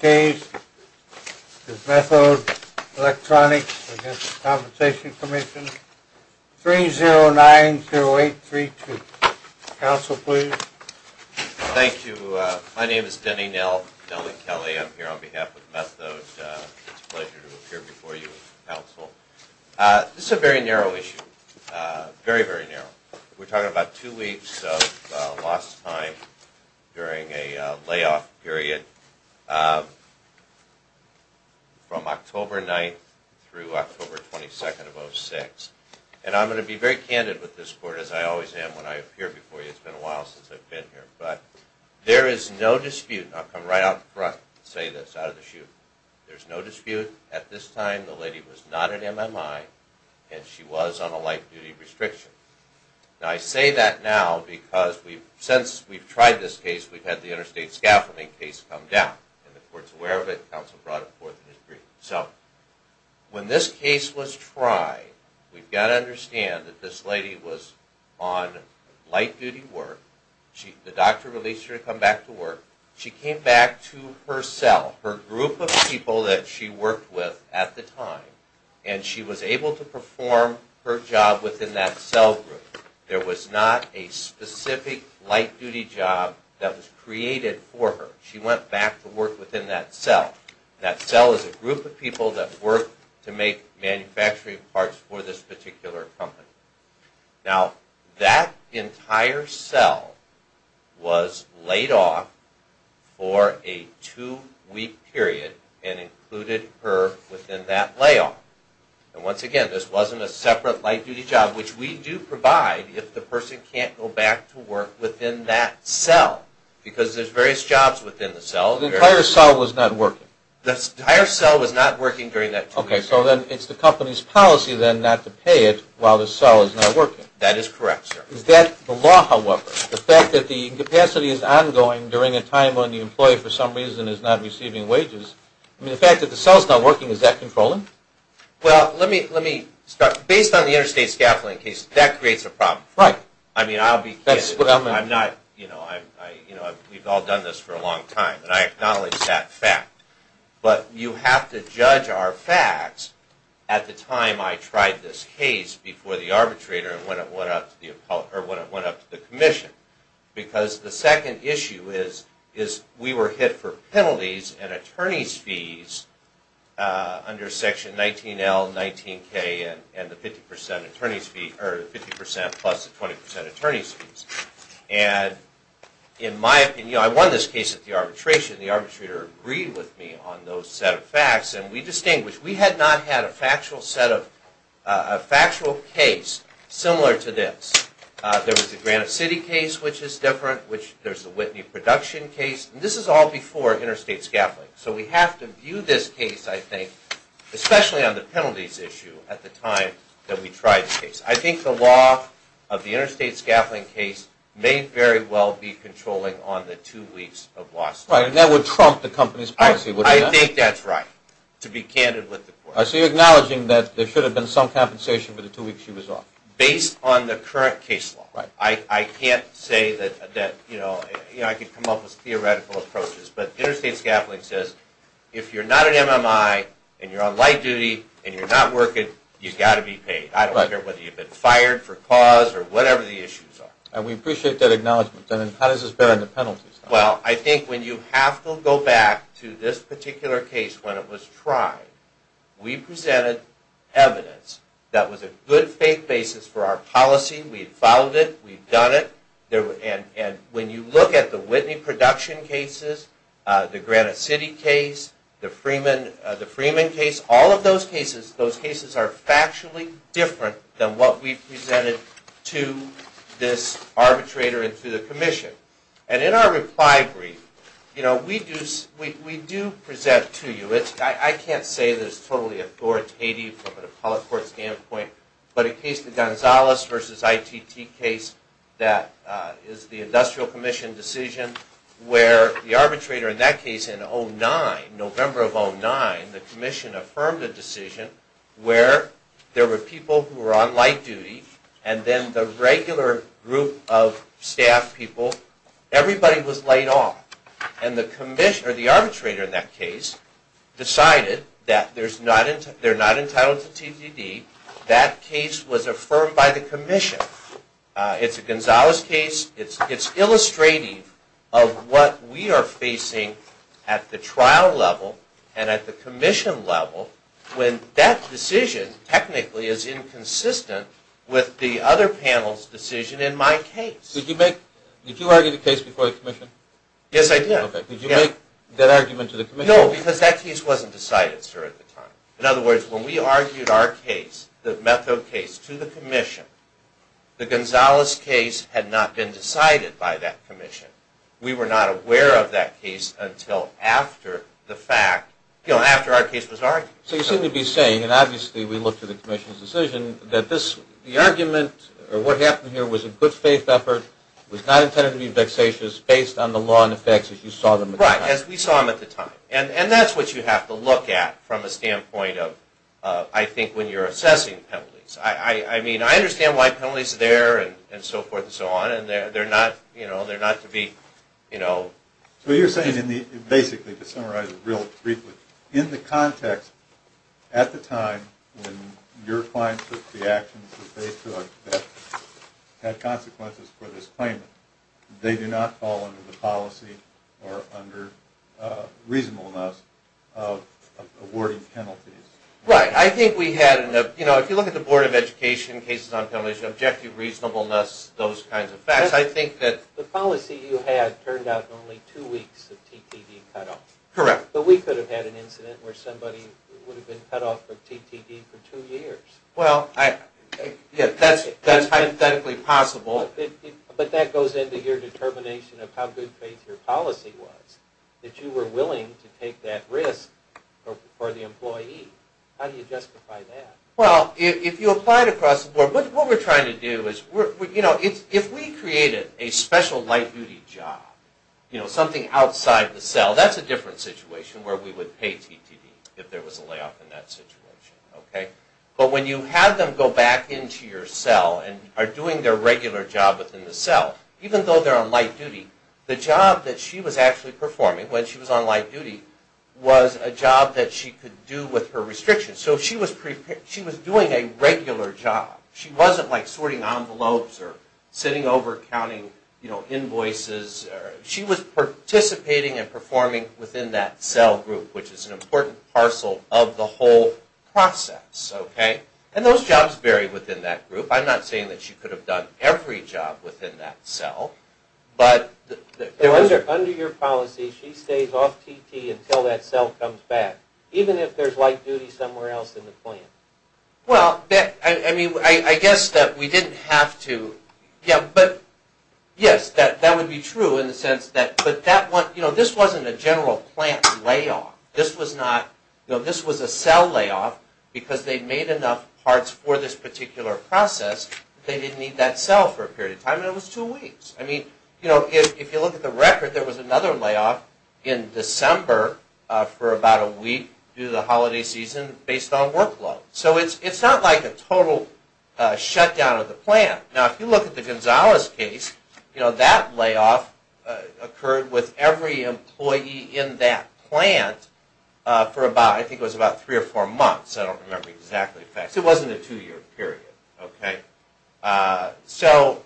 James, this is Methode Electronics v. The Workers' Compensation Commission, 3090832. Counsel, please. Thank you. My name is Denny Nell, Nellie Kelly. I'm here on behalf of Methode. It's a pleasure to appear before you, Counsel. This is a very narrow issue, very, very narrow. We're talking about two weeks of lost time during a layoff period from October 9th through October 22nd of 2006. And I'm going to be very candid with this Court, as I always am when I appear before you. It's been a while since I've been here. But there is no dispute, and I'll come right out front and say this out of the chute. There's no dispute. At this time, the lady was not an MMI, and she was on a light-duty restriction. Now, I say that now because since we've tried this case, we've had the interstate scaffolding case come down. And the Court's aware of it. Counsel brought it forth in his brief. So, when this case was tried, we've got to understand that this lady was on light-duty work. The doctor released her to come back to work. She came back to her cell, her group of people that she worked with at the time, and she was able to perform her job within that cell group. There was not a specific light-duty job that was created for her. She went back to work within that cell. That cell is a group of people that work to make manufacturing parts for this particular company. Now, that entire cell was laid off for a two-week period and included her within that layoff. And once again, this wasn't a separate light-duty job, which we do provide if the person can't go back to work within that cell, because there's various jobs within the cell. The entire cell was not working? Okay, so then it's the company's policy, then, not to pay it while the cell is not working? That is correct, sir. Is that the law, however? The fact that the incapacity is ongoing during a time when the employee, for some reason, is not receiving wages, I mean, the fact that the cell's not working, is that controlling? Well, let me start. Based on the interstate scaffolding case, that creates a problem. Right. I mean, I'll be kidding. That's what I meant. I'm not, you know, we've all done this for a long time, and I acknowledge that fact. But you have to judge our facts at the time I tried this case, before the arbitrator, and when it went up to the commission. Because the second issue is, we were hit for penalties and attorney's fees, under section 19L, 19K, and the 50% plus the 20% attorney's fees. And, in my opinion, I won this case at the arbitration. The arbitrator agreed with me on those set of facts, and we distinguished. We had not had a factual case similar to this. There was the Granite City case, which is different. There's the Whitney production case. This is all before interstate scaffolding. So we have to view this case, I think, especially on the penalties issue, at the time that we tried this case. I think the law of the interstate scaffolding case may very well be controlling on the two weeks of loss. Right, and that would trump the company's policy, wouldn't it? I think that's right, to be candid with the court. So you're acknowledging that there should have been some compensation for the two weeks she was off? Based on the current case law. Right. I can't say that, you know, I could come up with theoretical approaches, but interstate scaffolding says, if you're not an MMI, and you're on light duty, and you're not working, you've got to be paid. I don't care whether you've been fired for cause or whatever the issues are. And we appreciate that acknowledgement. Then how does this bear on the penalties? Well, I think when you have to go back to this particular case when it was tried, we presented evidence that was a good faith basis for our policy. We had followed it. We'd done it. And when you look at the Whitney production cases, the Granite City case, the Freeman case, all of those cases, those cases are factually different than what we presented to this arbitrator and to the commission. And in our reply brief, you know, we do present to you, I can't say that it's totally authoritative from an appellate court standpoint, but a case, the Gonzales v. ITT case, that is the industrial commission decision, where the arbitrator in that case in 2009, November of 2009, the commission affirmed a decision where there were people who were on light duty, and then the regular group of staff people, everybody was light off. And the arbitrator in that case decided that they're not entitled to TDD. That case was affirmed by the commission. It's a Gonzales case. It's illustrative of what we are facing at the trial level and at the commission level when that decision technically is inconsistent with the other panel's decision in my case. Did you argue the case before the commission? Yes, I did. Did you make that argument to the commission? No, because that case wasn't decided, sir, at the time. In other words, when we argued our case, the Methode case, to the commission, the Gonzales case had not been decided by that commission. We were not aware of that case until after the fact, you know, after our case was argued. So you seem to be saying, and obviously we looked at the commission's decision, that the argument or what happened here was a good faith effort, was not intended to be vexatious based on the law and the facts as you saw them at the time. Right, as we saw them at the time. And that's what you have to look at from a standpoint of, I think, when you're assessing penalties. I mean, I understand why penalties are there and so forth and so on, and they're not, you know, they're not to be, you know... So you're saying basically, to summarize it real briefly, in the context at the time when your clients took the actions that they took that had consequences for this claimant, they do not fall under the policy or under reasonableness of awarding penalties. Right, I think we had, you know, if you look at the Board of Education cases on penalties, objective reasonableness, those kinds of facts, I think that... The policy you had turned out only two weeks of TTD cutoff. Correct. But we could have had an incident where somebody would have been cut off from TTD for two years. Well, that's hypothetically possible. But that goes into your determination of how good faith your policy was, that you were willing to take that risk for the employee. How do you justify that? Well, if you apply it across the board, what we're trying to do is, you know, if we created a special light-duty job, you know, something outside the cell, that's a different situation where we would pay TTD if there was a layoff in that situation, okay? But when you have them go back into your cell and are doing their regular job within the cell, even though they're on light-duty, the job that she was actually performing when she was on light-duty was a job that she could do with her restrictions. So she was doing a regular job. She wasn't, like, sorting envelopes or sitting over counting, you know, invoices. She was participating and performing within that cell group, which is an important parcel of the whole process, okay? And those jobs vary within that group. I'm not saying that she could have done every job within that cell, but... Under your policy, she stays off TT until that cell comes back, even if there's light-duty somewhere else in the plant. Well, I mean, I guess that we didn't have to. Yeah, but, yes, that would be true in the sense that, but that one, you know, this wasn't a general plant layoff. This was not, you know, this was a cell layoff because they made enough parts for this particular process. They didn't need that cell for a period of time, and it was two weeks. I mean, you know, if you look at the record, there was another layoff in December for about a week due to the holiday season based on workload. So it's not like a total shutdown of the plant. Now, if you look at the Gonzalez case, you know, that layoff occurred with every employee in that plant for about, I think it was about three or four months. I don't remember exactly the facts. It wasn't a two-year period, okay? So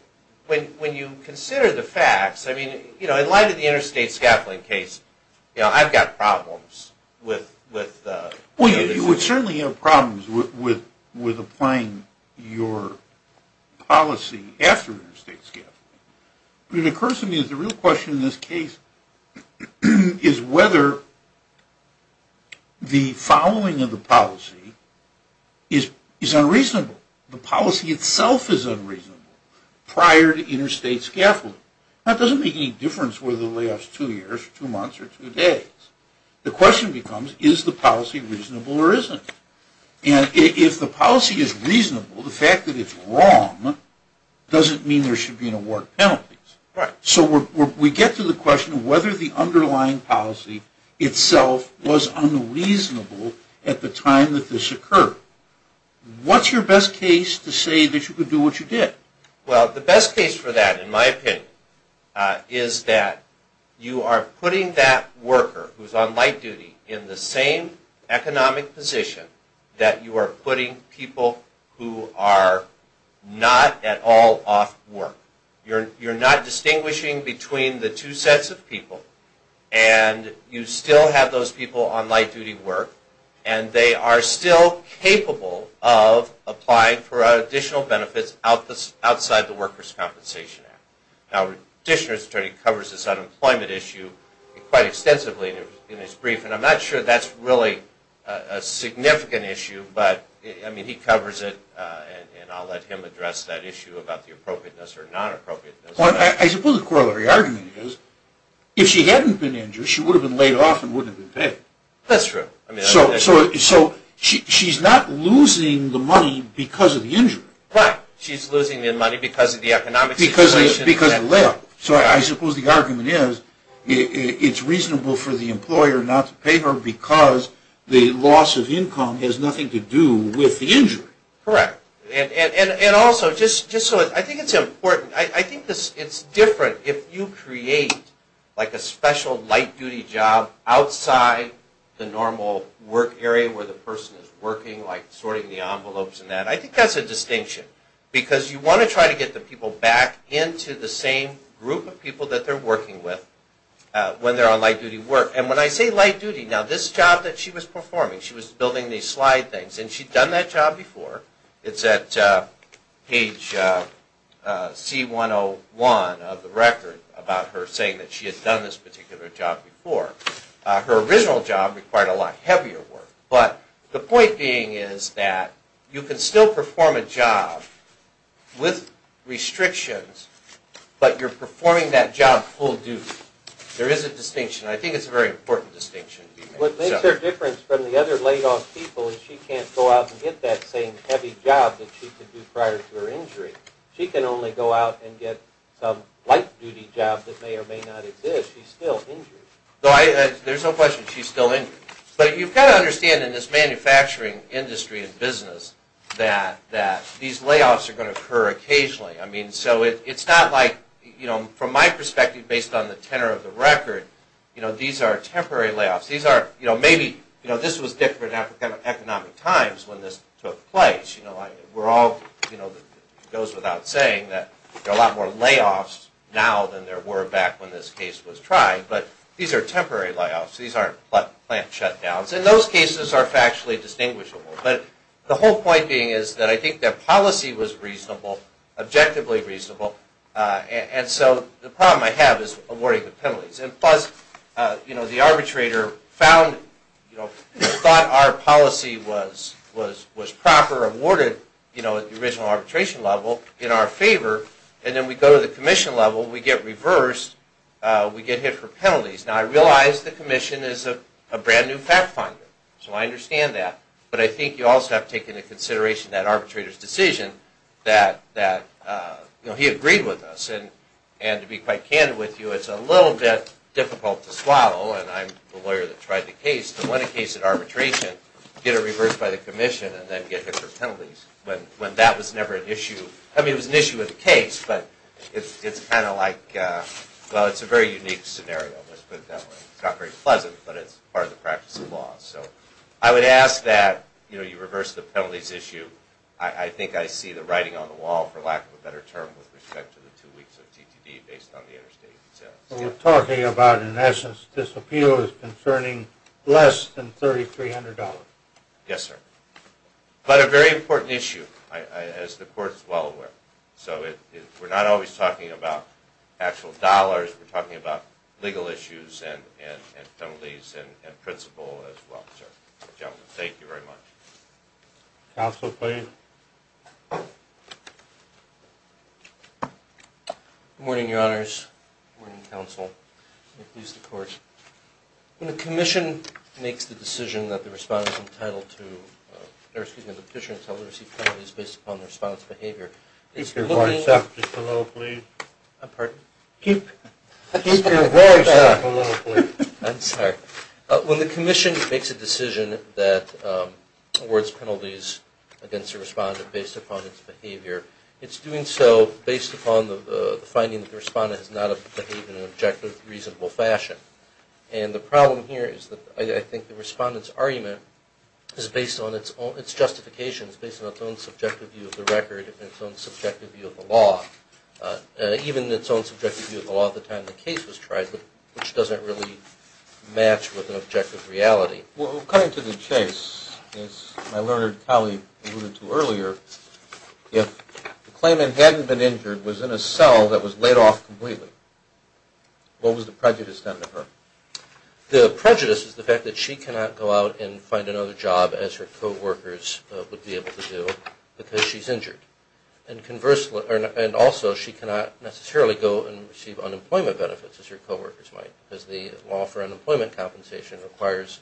when you consider the facts, I mean, you know, in light of the interstate scaffolding case, you know, I've got problems with... Well, you would certainly have problems with applying your policy after interstate scaffolding. What occurs to me is the real question in this case is whether the following of the policy is unreasonable. The policy itself is unreasonable prior to interstate scaffolding. Now, it doesn't make any difference whether the layoff's two years, two months, or two days. The question becomes, is the policy reasonable or isn't? And if the policy is reasonable, the fact that it's wrong doesn't mean there should be an award penalty. Right. So we get to the question of whether the underlying policy itself was unreasonable at the time that this occurred. What's your best case to say that you could do what you did? Well, the best case for that, in my opinion, is that you are putting that worker who's on light duty in the same economic position that you are putting people who are not at all off work. You're not distinguishing between the two sets of people, and you still have those people on light duty work, and they are still capable of applying for additional benefits outside the Workers' Compensation Act. Now, Dishner's attorney covers this unemployment issue quite extensively in his brief, and I'm not sure that's really a significant issue, but, I mean, he covers it, and I'll let him address that issue about the appropriateness or non-appropriateness. Well, I suppose the core of the argument is, if she hadn't been injured, she would have been laid off and wouldn't have been paid. That's true. So, she's not losing the money because of the injury. Right. She's losing the money because of the economic situation. Because of the layoff. So, I suppose the argument is, it's reasonable for the employer not to pay her because the loss of income has nothing to do with the injury. Correct. And also, just so, I think it's important, I think it's different if you create, like, a special light-duty job outside the normal work area where the person is working, like, sorting the envelopes and that. I think that's a distinction, because you want to try to get the people back into the same group of people that they're working with when they're on light-duty work. And when I say light-duty, now, this job that she was performing, she was building these slide things, and she'd done that job before. It's at page C101 of the record about her saying that she had done this particular job before. Her original job required a lot heavier work. But the point being is that you can still perform a job with restrictions, but you're performing that job full-duty. There is a distinction, and I think it's a very important distinction to be made. What makes her different from the other laid-off people is she can't go out and get that same heavy job that she could do prior to her injury. She can only go out and get some light-duty job that may or may not exist. She's still injured. There's no question she's still injured. But you've got to understand in this manufacturing industry and business that these layoffs are going to occur occasionally. I mean, so it's not like, from my perspective, based on the tenor of the record, these are temporary layoffs. Maybe this was different in economic times when this took place. It goes without saying that there are a lot more layoffs now than there were back when this case was tried. But these are temporary layoffs. These aren't plant shutdowns. And those cases are factually distinguishable. But the whole point being is that I think their policy was reasonable, objectively reasonable. And so the problem I have is awarding the penalties. And, plus, the arbitrator thought our policy was proper, awarded at the original arbitration level in our favor. And then we go to the commission level, we get reversed, we get hit for penalties. Now, I realize the commission is a brand-new fact finder, so I understand that. But I think you also have to take into consideration that arbitrator's decision, that he agreed with us. And to be quite candid with you, it's a little bit difficult to swaddle, and I'm the lawyer that tried the case, to win a case at arbitration, get it reversed by the commission, and then get hit for penalties, when that was never an issue. I mean, it was an issue with the case, but it's kind of like, well, it's a very unique scenario, let's put it that way. It's not very pleasant, but it's part of the practice of law. So I would ask that you reverse the penalties issue. I think I see the writing on the wall, for lack of a better term, with respect to the two weeks of TTD based on the interstate. We're talking about, in essence, this appeal is concerning less than $3,300. Yes, sir. But a very important issue, as the court is well aware. So we're not always talking about actual dollars, we're talking about legal issues and penalties and principle as well, sir. Gentlemen, thank you very much. Counsel, please. Good morning, Your Honors. Good morning, Counsel. May it please the Court. When the commission makes the decision that the respondent is entitled to or excuse me, the petitioner is entitled to receive penalties based upon the respondent's behavior, Keep your voice up just a little, please. Pardon? Keep your voice up a little, please. I'm sorry. When the commission makes a decision that awards penalties against the respondent based upon its behavior, it's doing so based upon the finding that the respondent has not behaved in an objective, reasonable fashion. And the problem here is that I think the respondent's argument is based on its justification, it's based on its own subjective view of the record and its own subjective view of the law, even its own subjective view of the law at the time the case was tried, which doesn't really match with an objective reality. Well, cutting to the chase, as my learned colleague alluded to earlier, if the claimant hadn't been injured, was in a cell that was laid off completely, what was the prejudice done to her? The prejudice is the fact that she cannot go out and find another job, as her co-workers would be able to do, because she's injured. And also, she cannot necessarily go and receive unemployment benefits, as her co-workers might, because the law for unemployment compensation requires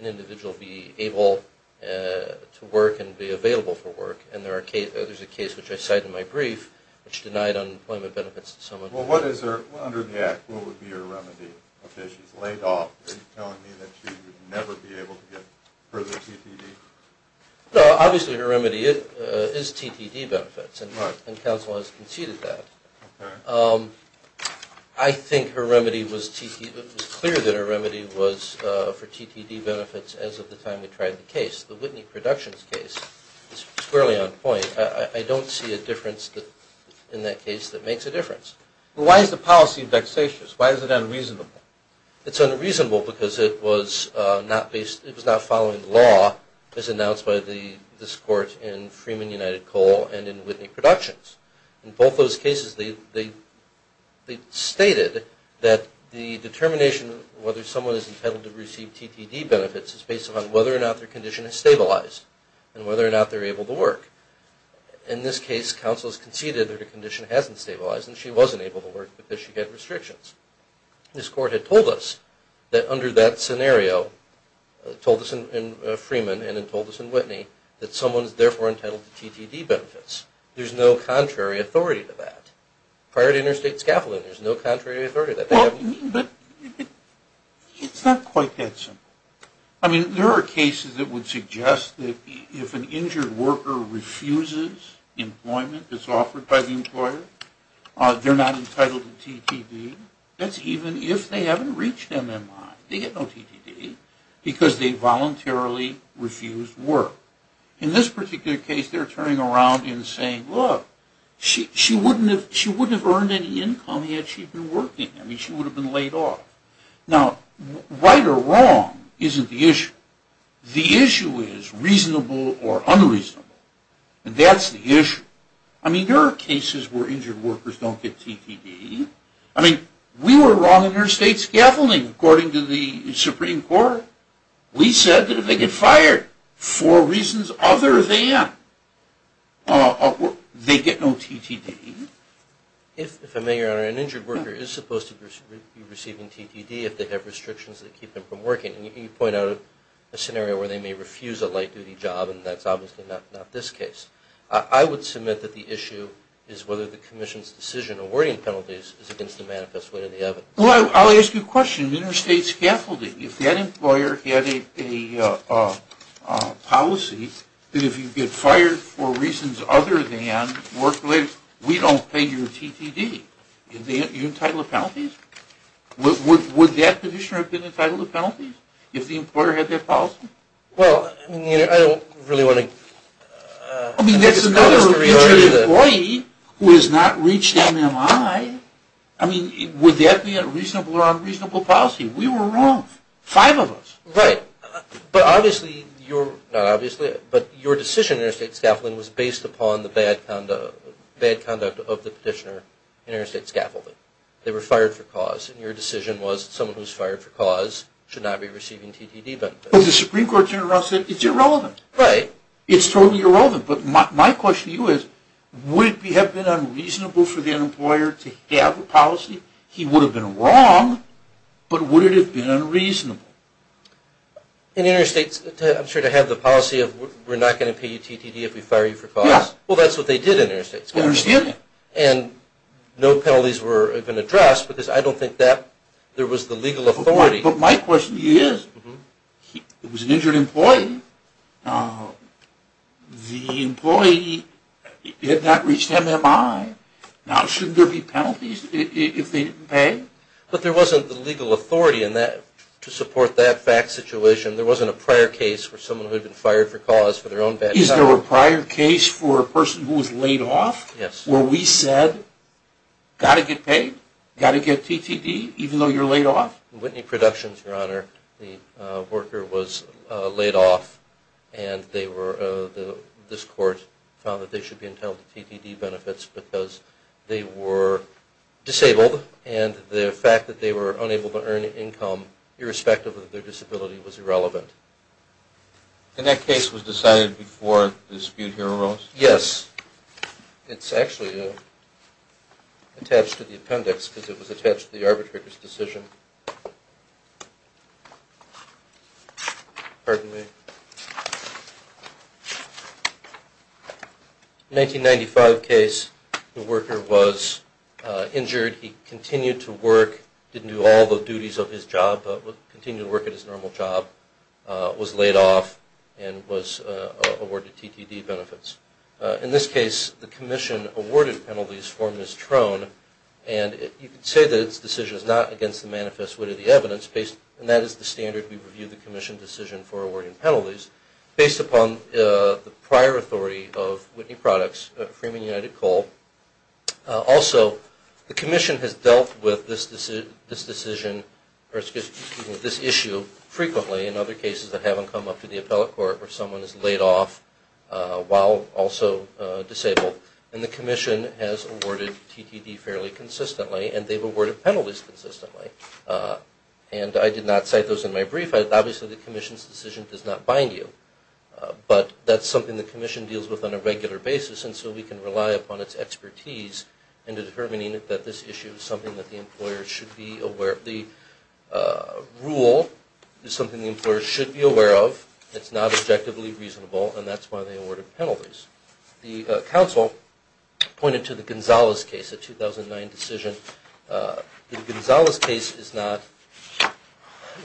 an individual to be able to work and be available for work. And there's a case which I cite in my brief which denied unemployment benefits to someone. Well, what is her, under the Act, what would be her remedy? Okay, she's laid off. Are you telling me that she would never be able to get further TTD? No, obviously her remedy is TTD benefits, and counsel has conceded that. I think her remedy was clear that her remedy was for TTD benefits as of the time we tried the case. The Whitney Productions case is squarely on point. I don't see a difference in that case that makes a difference. Why is the policy vexatious? Why is it unreasonable? It's unreasonable because it was not following the law as announced by this court in Freeman United Coal and in Whitney Productions. In both those cases, they stated that the determination of whether someone is entitled to receive TTD benefits is based upon whether or not their condition is stabilized, and whether or not they're able to work. In this case, counsel has conceded that her condition hasn't stabilized, and she wasn't able to work because she had restrictions. This court had told us that under that scenario, told us in Freeman and told us in Whitney, that someone is therefore entitled to TTD benefits. There's no contrary authority to that. Prior to interstate scaffolding, there's no contrary authority to that. But it's not quite that simple. I mean, there are cases that would suggest that if an injured worker refuses employment that's offered by the employer, they're not entitled to TTD. That's even if they haven't reached MMI. They get no TTD because they voluntarily refused work. In this particular case, they're turning around and saying, look, she wouldn't have earned any income had she been working. I mean, she would have been laid off. Now, right or wrong isn't the issue. The issue is reasonable or unreasonable, and that's the issue. I mean, there are cases where injured workers don't get TTD. I mean, we were wrong interstate scaffolding, according to the Supreme Court. We said that if they get fired for reasons other than they get no TTD. If, if I may, Your Honor, an injured worker is supposed to be receiving TTD if they have restrictions that keep them from working. And you point out a scenario where they may refuse a light-duty job, and that's obviously not this case. I would submit that the issue is whether the Commission's decision awarding penalties is against the manifest way of the evidence. Well, I'll ask you a question. Interstate scaffolding. If that employer had a policy that if you get fired for reasons other than work-related, we don't pay your TTD. Are you entitled to penalties? Would that petitioner have been entitled to penalties if the employer had that policy? Well, I don't really want to... I mean, that's another injured employee who has not reached MMI. I mean, would that be a reasonable or unreasonable policy? We were wrong, five of us. Right, but obviously your, not obviously, but your decision in interstate scaffolding was based upon the bad conduct of the petitioner in interstate scaffolding. They were fired for cause, and your decision was someone who was fired for cause should not be receiving TTD benefits. But the Supreme Court turned around and said, it's irrelevant. Right. It's totally irrelevant. But my question to you is, would it have been unreasonable for the employer to have a policy? He would have been wrong, but would it have been unreasonable? In interstates, I'm sure they have the policy of we're not going to pay you TTD if we fire you for cause. Yeah. Well, that's what they did in interstates. Interstate. And no penalties were even addressed because I don't think that there was the legal authority. But my question to you is, it was an injured employee. The employee had not reached MMI. Now, shouldn't there be penalties if they didn't pay? But there wasn't the legal authority in that, to support that fact situation. There wasn't a prior case for someone who had been fired for cause for their own bad conduct. Is there a prior case for a person who was laid off? Yes. Where we said, got to get paid, got to get TTD, even though you're laid off? In Whitney Productions, Your Honor, the worker was laid off, and this court found that they should be entitled to TTD benefits because they were disabled, and the fact that they were unable to earn income, irrespective of their disability, was irrelevant. And that case was decided before the dispute here arose? Yes. It's actually attached to the appendix because it was attached to the arbitrator's decision. Pardon me. 1995 case, the worker was injured. He continued to work, didn't do all the duties of his job, but continued to work at his normal job, was laid off, and was awarded TTD benefits. In this case, the Commission awarded penalties for mistrown, and you could say that its decision is not against the manifest wit of the evidence, and that is the standard we review the Commission decision for awarding penalties, based upon the prior authority of Whitney Products, Freeman United Coal. Also, the Commission has dealt with this issue frequently in other cases that haven't come up to the appellate court, where someone is laid off while also disabled, and the Commission has awarded TTD fairly consistently, and they've awarded penalties consistently. And I did not cite those in my brief. Obviously, the Commission's decision does not bind you, but that's something the Commission deals with on a regular basis, and so we can rely upon its expertise in determining that this issue is something that the employer should be aware of. The rule is something the employer should be aware of. It's not objectively reasonable, and that's why they awarded penalties. The counsel pointed to the Gonzales case, the 2009 decision. The Gonzales case is not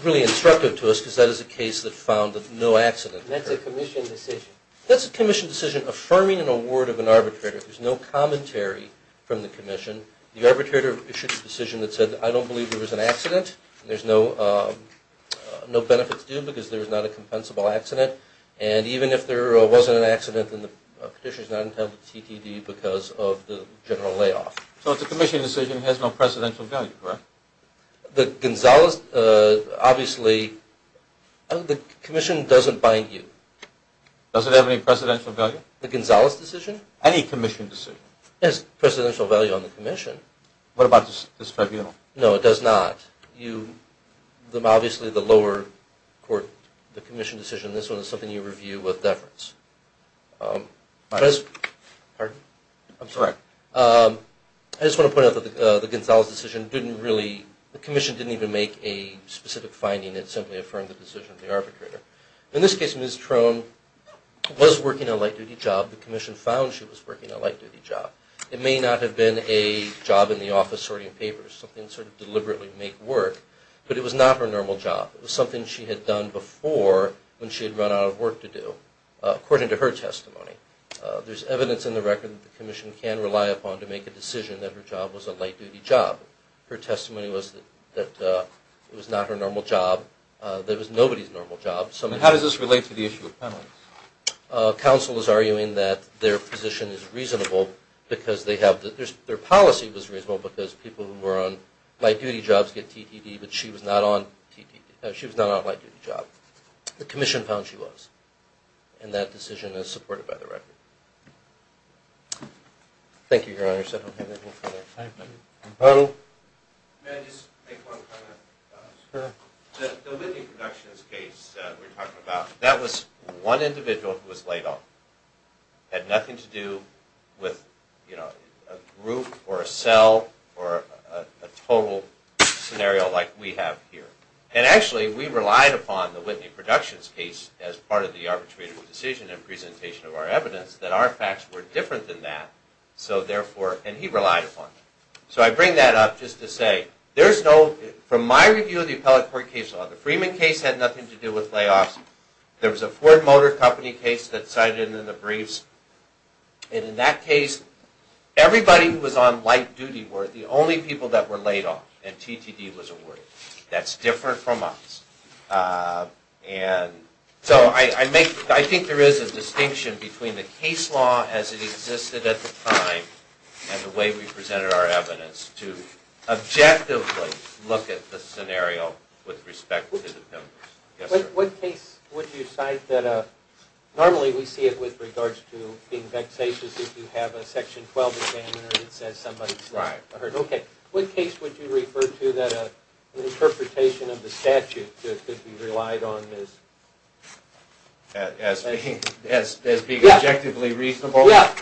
really instructive to us, because that is a case that found no accident. That's a Commission decision. It's a decision affirming an award of an arbitrator. There's no commentary from the Commission. The arbitrator issued a decision that said, I don't believe there was an accident. There's no benefits due, because there was not a compensable accident. And even if there wasn't an accident, then the petition is not entitled to TTD because of the general layoff. So it's a Commission decision that has no precedential value, correct? The Gonzales, obviously, the Commission doesn't bind you. Does it have any precedential value? The Gonzales decision? Any Commission decision. It has precedential value on the Commission. What about this tribunal? No, it does not. Obviously, the lower court, the Commission decision, this one is something you review with deference. Pardon? I'm sorry. I just want to point out that the Gonzales decision didn't really, the Commission didn't even make a specific finding. It simply affirmed the decision of the arbitrator. In this case, Ms. Trone was working a light-duty job. The Commission found she was working a light-duty job. It may not have been a job in the office sorting papers, something to sort of deliberately make work, but it was not her normal job. It was something she had done before when she had run out of work to do, according to her testimony. There's evidence in the record that the Commission can rely upon to make a decision that her job was a light-duty job. Her testimony was that it was not her normal job. It was nobody's normal job. How does this relate to the issue of penalties? Counsel is arguing that their position is reasonable because they have, their policy was reasonable because people who were on light-duty jobs get TDD, but she was not on a light-duty job. The Commission found she was, and that decision is supported by the record. Thank you, Your Honor. I don't have anything for that time. Arnold? May I just make one comment? Sure. The Whitney Productions case that we're talking about, that was one individual who was laid off. It had nothing to do with, you know, a group or a cell or a total scenario like we have here. And actually, we relied upon the Whitney Productions case as part of the arbitration decision and presentation of our evidence that our facts were different than that. So therefore, and he relied upon it. So I bring that up just to say, there's no, from my review of the appellate court case law, the Freeman case had nothing to do with layoffs. There was a Ford Motor Company case that cited it in the briefs. And in that case, everybody who was on light-duty were the only people that were laid off, and TDD was awarded. That's different from us. And so I think there is a distinction between the case law as it existed at the time and the way we presented our evidence to objectively look at the scenario with respect to the pimpers. Yes, sir? What case would you cite that normally we see it with regards to being vexatious if you have a Section 12 examiner and it says somebody's hurt? Right. Okay. What case would you refer to that an interpretation of the statute could be relied on as? As being objectively reasonable? Yeah.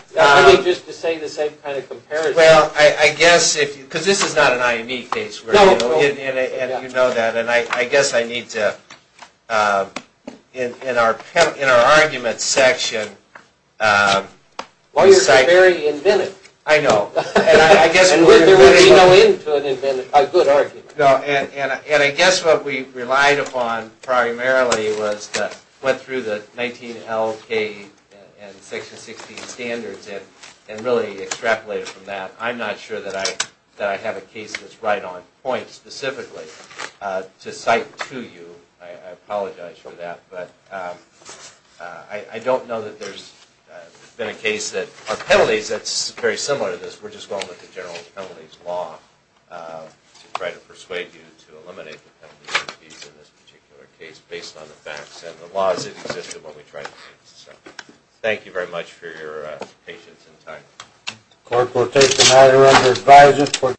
Just to say the same kind of comparison. Well, I guess, because this is not an IME case. No. And you know that. And I guess I need to, in our argument section. Lawyers are very inventive. I know. There would be no end to an inventive, a good argument. And I guess what we relied upon primarily was that went through the 19LK and Section 16 standards and really extrapolated from that. I'm not sure that I have a case that's right on point specifically to cite to you. I apologize for that. But I don't know that there's been a case that, or penalties that's very similar to this. We're just going with the general penalties law to try to persuade you to eliminate the penalties in this particular case based on the facts and the laws that existed when we tried to do this. Thank you very much for your patience and time. The court will take the matter under advisory.